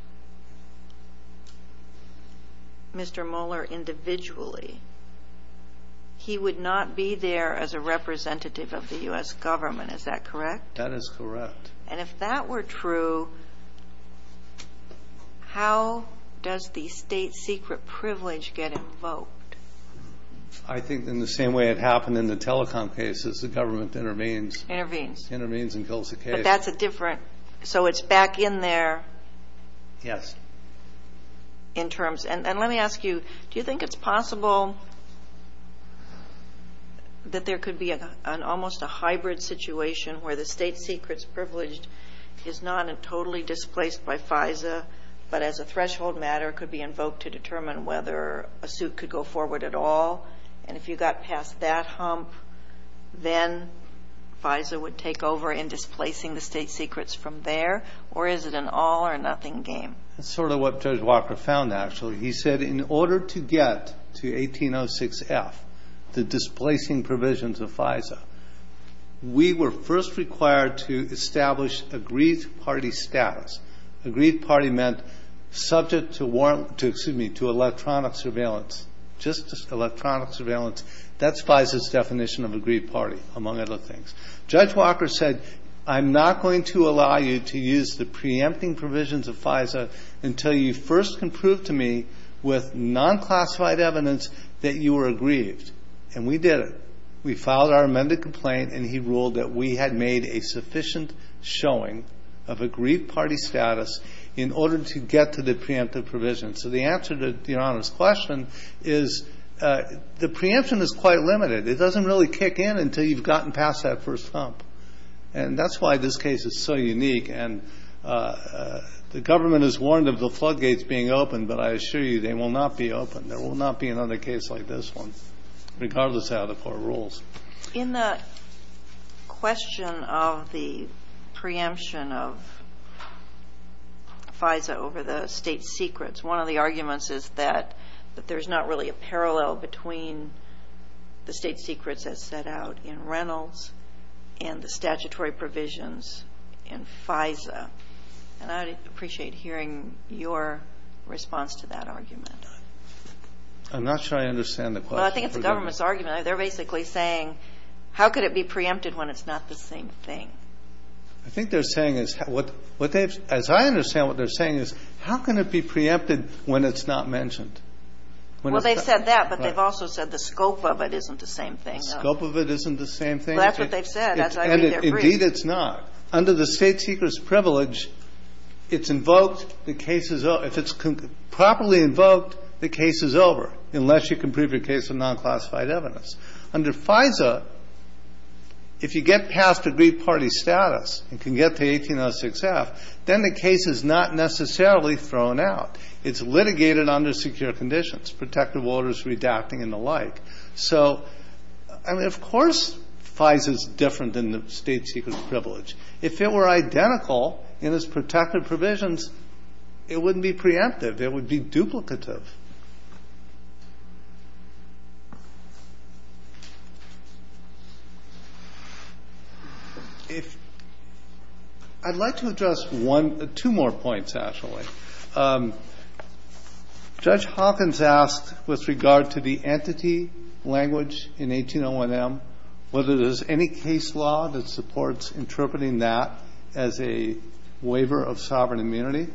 Mr. Miller individually, he would not be there as a representative of the U.S. government. Is that correct? That is correct. And if that were true, how does the state secret privilege get invoked? I think in the same way it happened in the telecom cases. The government intervenes. Intervenes. Intervenes and kills the case. But that's a different. So it's back in there. Yes. In terms. And let me ask you, do you think it's possible that there could be an almost a hybrid situation where the state secret's privilege is not totally displaced by FISA, but as a threshold matter could be invoked to determine whether a suit could go forward at all, and if you got past that hump, then FISA would take over in displacing the state secrets from there, or is it an all or nothing game? That's sort of what Judge Walker found, actually. He said in order to get to 1806F, the displacing provisions of FISA, we were first required to establish agreed party status. Agreed party meant subject to electronic surveillance, just electronic surveillance. That's FISA's definition of agreed party, among other things. Judge Walker said, I'm not going to allow you to use the preempting provisions of FISA until you first can prove to me with non-classified evidence that you were aggrieved. And we did it. We filed our amended complaint, and he ruled that we had made a sufficient showing of agreed party status in order to get to the preemptive provisions. So the answer to Your Honor's question is the preemption is quite limited. It doesn't really kick in until you've gotten past that first hump, and that's why this case is so unique. And the government is warned of the floodgates being opened, but I assure you they will not be opened. There will not be another case like this one, regardless of how the court rules. In the question of the preemption of FISA over the state secrets, one of the arguments is that there's not really a parallel between the state secrets as set out in Reynolds and the statutory provisions in FISA. And I'd appreciate hearing your response to that argument. I'm not sure I understand the question. Well, I think it's the government's argument. They're basically saying how could it be preempted when it's not the same thing. I think they're saying as I understand what they're saying is how can it be preempted when it's not mentioned? Well, they've said that, but they've also said the scope of it isn't the same thing. The scope of it isn't the same thing. That's what they've said, as I read their brief. Indeed, it's not. Under the state secrets privilege, it's invoked, the case is over. If it's properly invoked, the case is over, unless you can prove your case of non-classified evidence. Under FISA, if you get past aggrieved party status and can get to 1806F, then the case is not necessarily thrown out. It's litigated under secure conditions, protective orders redacting and the like. So, I mean, of course FISA is different than the state secrets privilege. If it were identical in its protective provisions, it wouldn't be preemptive. It would be duplicative. If I'd like to address one or two more points, actually. Judge Hawkins asked with regard to the entity language in 1801M, whether there's any case law that supports interpreting that as a waiver of sovereign immunity.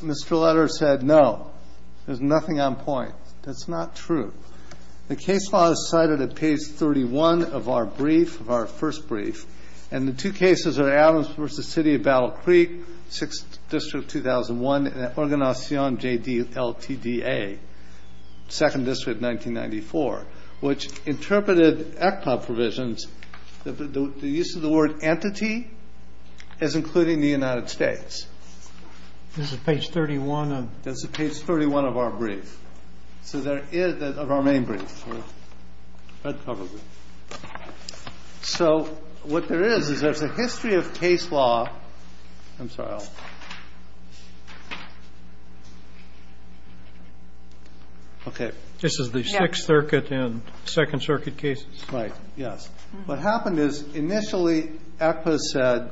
Mr. Letters said no. There's nothing on point. That's not true. The case law is cited at page 31 of our brief, of our first brief. And the two cases are Adams v. City of Battle Creek, 6th District, 2001, and Organizacion J.D.L.T.D.A., 2nd District, 1994, which interpreted ECPOB provisions that the use of the word entity is including the United States. This is page 31. This is page 31 of our brief. So there is, of our main brief. So what there is, is there's a history of case law. I'm sorry. Okay. This is the Sixth Circuit and Second Circuit cases. Right. Yes. What happened is initially ECPA said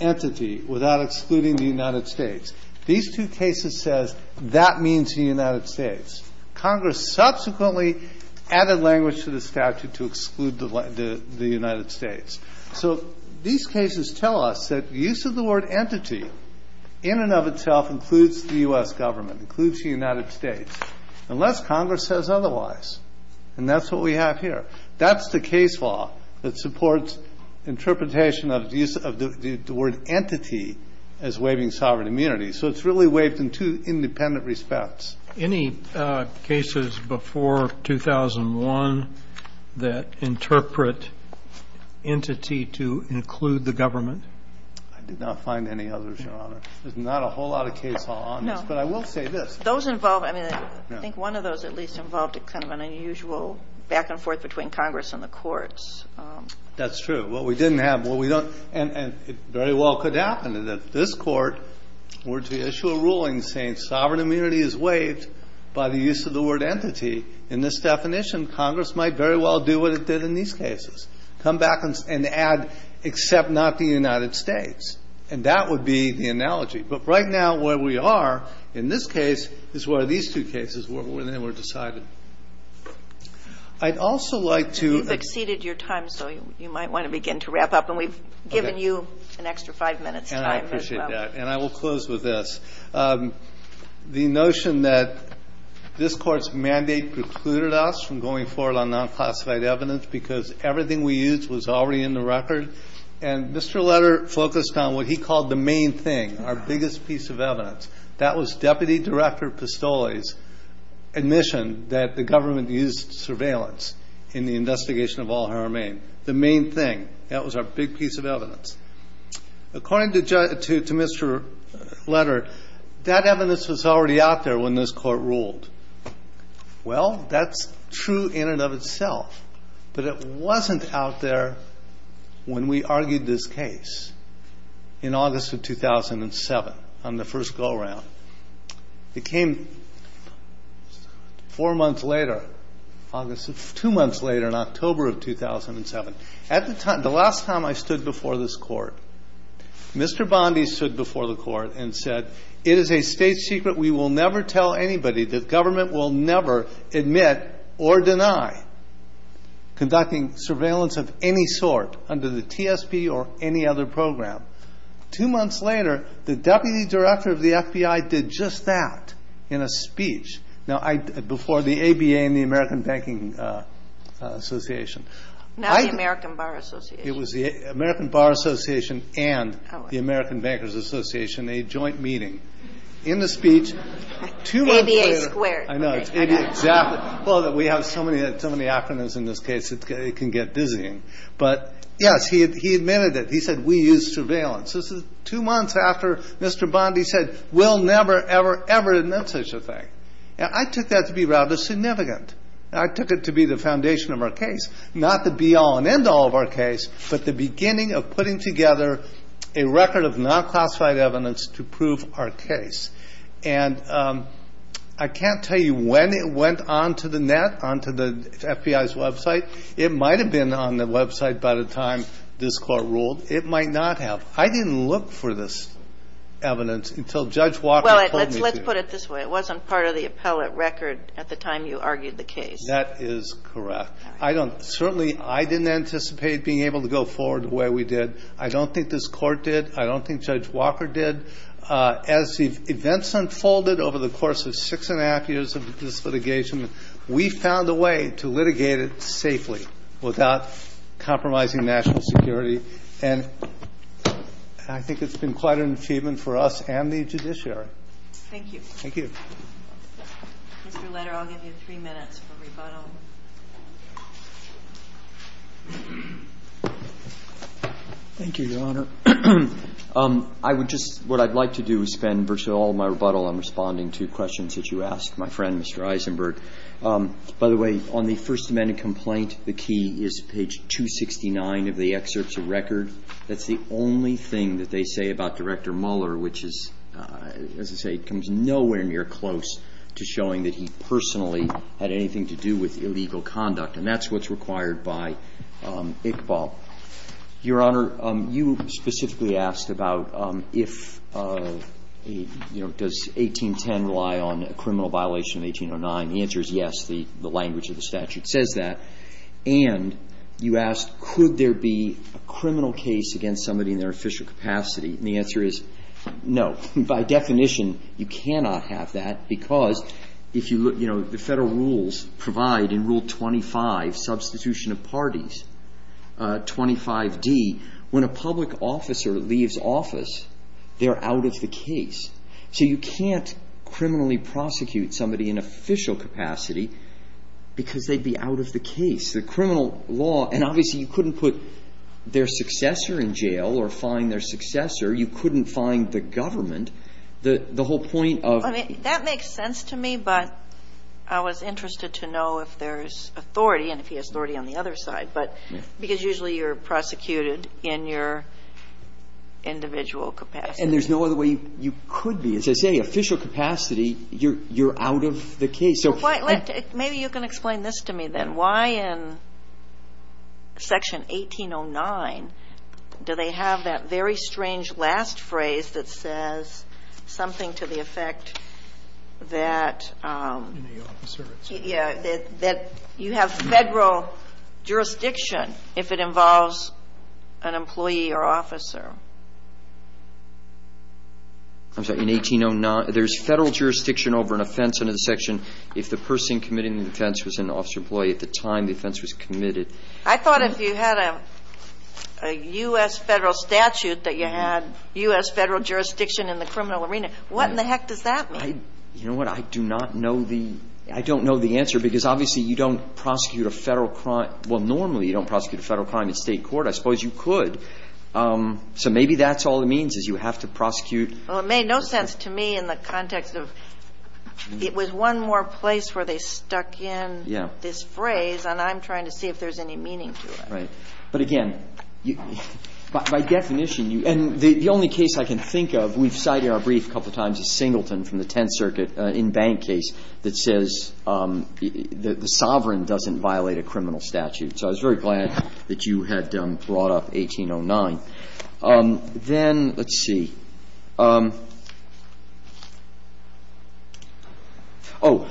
entity without excluding the United States. These two cases says that means the United States. Congress subsequently added language to the statute to exclude the United States. So these cases tell us that use of the word entity in and of itself includes the U.S. Government, includes the United States, unless Congress says otherwise. And that's what we have here. That's the case law that supports interpretation of the use of the word entity as waiving sovereign immunity. So it's really waived in two independent respects. Any cases before 2001 that interpret entity to include the government? I did not find any others, Your Honor. There's not a whole lot of case law on this. No. But I will say this. Those involved, I mean, I think one of those at least involved a kind of an unusual back-and-forth between Congress and the courts. That's true. What we didn't have, what we don't, and it very well could happen is that this Court were to issue a ruling saying sovereign immunity is waived by the use of the word entity. In this definition, Congress might very well do what it did in these cases, come back and add, except not the United States. And that would be the analogy. But right now where we are in this case is where these two cases were decided. I'd also like to. You've exceeded your time, so you might want to begin to wrap up. And we've given you an extra five minutes. And I appreciate that. And I will close with this. The notion that this Court's mandate precluded us from going forward on non-classified evidence because everything we used was already in the record. And Mr. Letter focused on what he called the main thing, our biggest piece of evidence. That was Deputy Director Pistole's admission that the government used surveillance in the investigation of Al-Haramain. The main thing. That was our big piece of evidence. According to Mr. Letter, that evidence was already out there when this Court ruled. Well, that's true in and of itself. But it wasn't out there when we argued this case in August of 2007 on the first vote round. It came four months later, two months later in October of 2007. The last time I stood before this Court, Mr. Bondi stood before the Court and said, it is a state secret. We will never tell anybody. The government will never admit or deny conducting surveillance of any sort under the TSP or any other program. Two months later, the Deputy Director of the FBI did just that in a speech. Now, before the ABA and the American Banking Association. Not the American Bar Association. It was the American Bar Association and the American Bankers Association, a joint meeting. In the speech, two months later. ABA squared. I know. Exactly. Well, we have so many acronyms in this case, it can get dizzying. But, yes, he admitted it. He said, we use surveillance. This is two months after Mr. Bondi said, we'll never, ever, ever admit such a thing. Now, I took that to be rather significant. I took it to be the foundation of our case. Not the be-all and end-all of our case, but the beginning of putting together a record of non-classified evidence to prove our case. And I can't tell you when it went onto the net, onto the FBI's website. It might have been on the website by the time this Court ruled. It might not have. I didn't look for this evidence until Judge Walker told me to. Well, let's put it this way. It wasn't part of the appellate record at the time you argued the case. That is correct. Certainly, I didn't anticipate being able to go forward the way we did. I don't think this Court did. I don't think Judge Walker did. As the events unfolded over the course of six and a half years of this litigation, we found a way to litigate it safely without compromising national security. And I think it's been quite an achievement for us and the judiciary. Thank you. Thank you. Mr. Leder, I'll give you three minutes for rebuttal. Thank you, Your Honor. I would just – what I'd like to do is spend virtually all my rebuttal on responding to questions that you asked. My friend, Mr. Eisenberg. By the way, on the First Amendment complaint, the key is page 269 of the excerpts of record. That's the only thing that they say about Director Mueller, which is, as I say, comes nowhere near close to showing that he personally had anything to do with illegal conduct. And that's what's required by Iqbal. Your Honor, you specifically asked about if, you know, does 1810 rely on a criminal violation of 1809. The answer is yes. The language of the statute says that. And you asked, could there be a criminal case against somebody in their official capacity? And the answer is no. By definition, you cannot have that, because if you look, you know, the Federal rules provide in Rule 25, substitution of parties, 25d, when a public officer leaves office, they're out of the case. So you can't criminally prosecute somebody in official capacity, because they'd be out of the case. The criminal law, and obviously you couldn't put their successor in jail or find their successor. You couldn't find the government. The whole point of — I mean, that makes sense to me, but I was interested to know if there's authority and if he has authority on the other side. But because usually you're prosecuted in your individual capacity. And there's no other way you could be. As I say, official capacity, you're out of the case. So — Maybe you can explain this to me, then. Why in Section 1809 do they have that very strange last phrase that says something to the effect that — In the officer. Yeah. That you have Federal jurisdiction if it involves an employee or officer. I'm sorry. In 1809, there's Federal jurisdiction over an offense under the section if the person committing the offense was an officer employee at the time the offense was committed. I thought if you had a U.S. Federal statute that you had U.S. Federal jurisdiction in the criminal arena. What in the heck does that mean? You know what? I do not know the — I don't know the answer because obviously you don't prosecute a Federal — well, normally you don't prosecute a Federal crime in State court. I suppose you could. So maybe that's all it means is you have to prosecute — Well, it made no sense to me in the context of it was one more place where they stuck in this phrase. And I'm trying to see if there's any meaning to it. Right. But again, by definition, you — and the only case I can think of, we've cited in our brief a couple times, is Singleton from the Tenth Circuit in Bank case that says the sovereign doesn't violate a criminal statute. So I was very glad that you had brought up 1809. Then, let's see. Oh.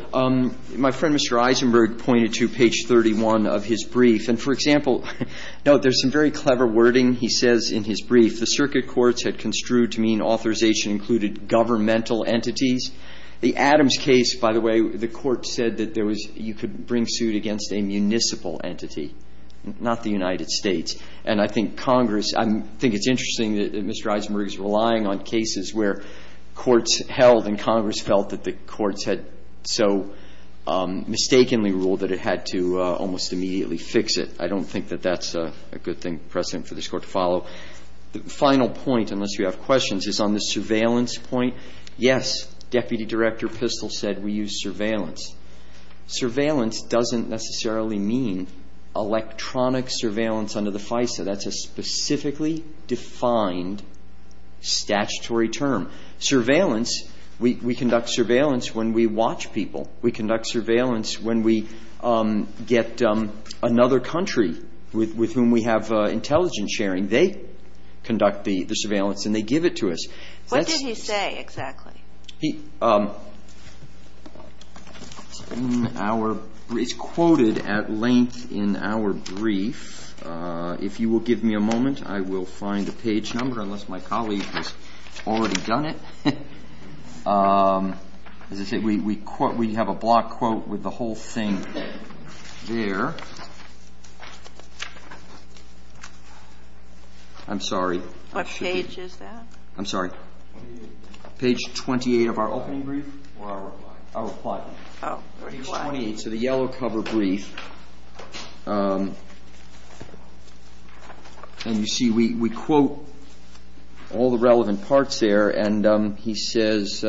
My friend, Mr. Eisenberg, pointed to page 31 of his brief. And for example — no, there's some very clever wording he says in his brief. The circuit courts had construed to mean authorization included governmental entities. The Adams case, by the way, the court said that there was — you could bring suit against a municipal entity, not the United States. And I think Congress — I think it's interesting that Mr. Eisenberg is relying on cases where courts held and Congress felt that the courts had so mistakenly ruled that it had to almost immediately fix it. Well, the final point, unless you have questions, is on the surveillance point. Yes, Deputy Director Pistol said we use surveillance. Surveillance doesn't necessarily mean electronic surveillance under the FISA. That's a specifically defined statutory term. Surveillance — we conduct surveillance when we watch people. We conduct surveillance when we get another country with whom we have intelligence and sharing. They conduct the surveillance and they give it to us. What did he say exactly? He — in our — it's quoted at length in our brief. If you will give me a moment, I will find the page number, unless my colleague has already done it. As I say, we have a block quote with the whole thing there. I'm sorry. What page is that? I'm sorry. Page 28. Page 28 of our opening brief? Or our reply? Our reply. Oh, reply. Page 28, so the yellow cover brief. And you see we quote all the relevant parts there and he says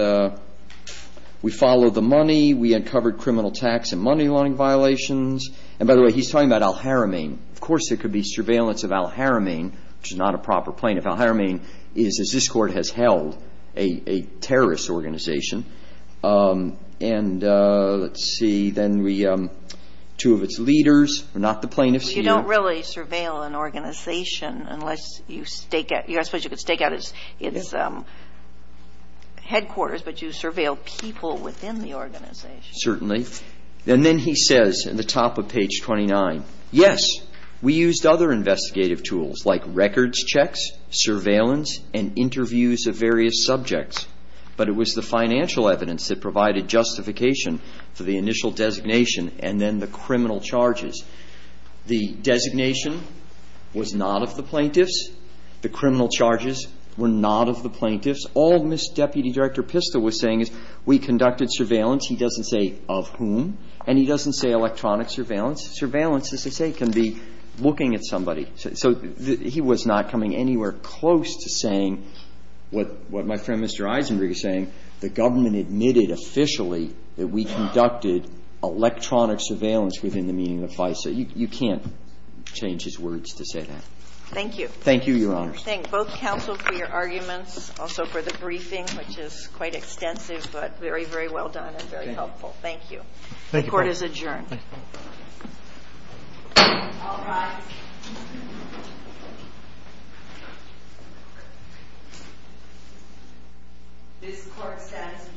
we follow the money, we uncovered criminal tax and money-laundering violations. And by the way, he's talking about Al-Haramain. Of course there could be surveillance of Al-Haramain, which is not a proper plaintiff. Al-Haramain is, as this Court has held, a terrorist organization. And let's see, then we — two of its leaders are not the plaintiffs here. You don't really surveil an organization unless you stake out — I suppose you could stake out its headquarters, but you surveil people within the organization. Certainly. And then he says at the top of page 29, yes, we used other investigative tools like records checks, surveillance, and interviews of various subjects, but it was the financial evidence that provided justification for the initial designation and then the criminal charges. The designation was not of the plaintiffs. The criminal charges were not of the plaintiffs. All Ms. Deputy Director Pista was saying is we conducted surveillance. He doesn't say of whom. And he doesn't say electronic surveillance. Surveillance, as I say, can be looking at somebody. So he was not coming anywhere close to saying what my friend Mr. Eisenberg is saying, the government admitted officially that we conducted electronic surveillance within the meaning of the vice. So you can't change his words to say that. Thank you. Thank you, Your Honor. Thank both counsel for your arguments, also for the briefing, which is quite extensive, but very, very well done and very helpful. Thank you. The Court is adjourned. All rise. This Court stands adjourned.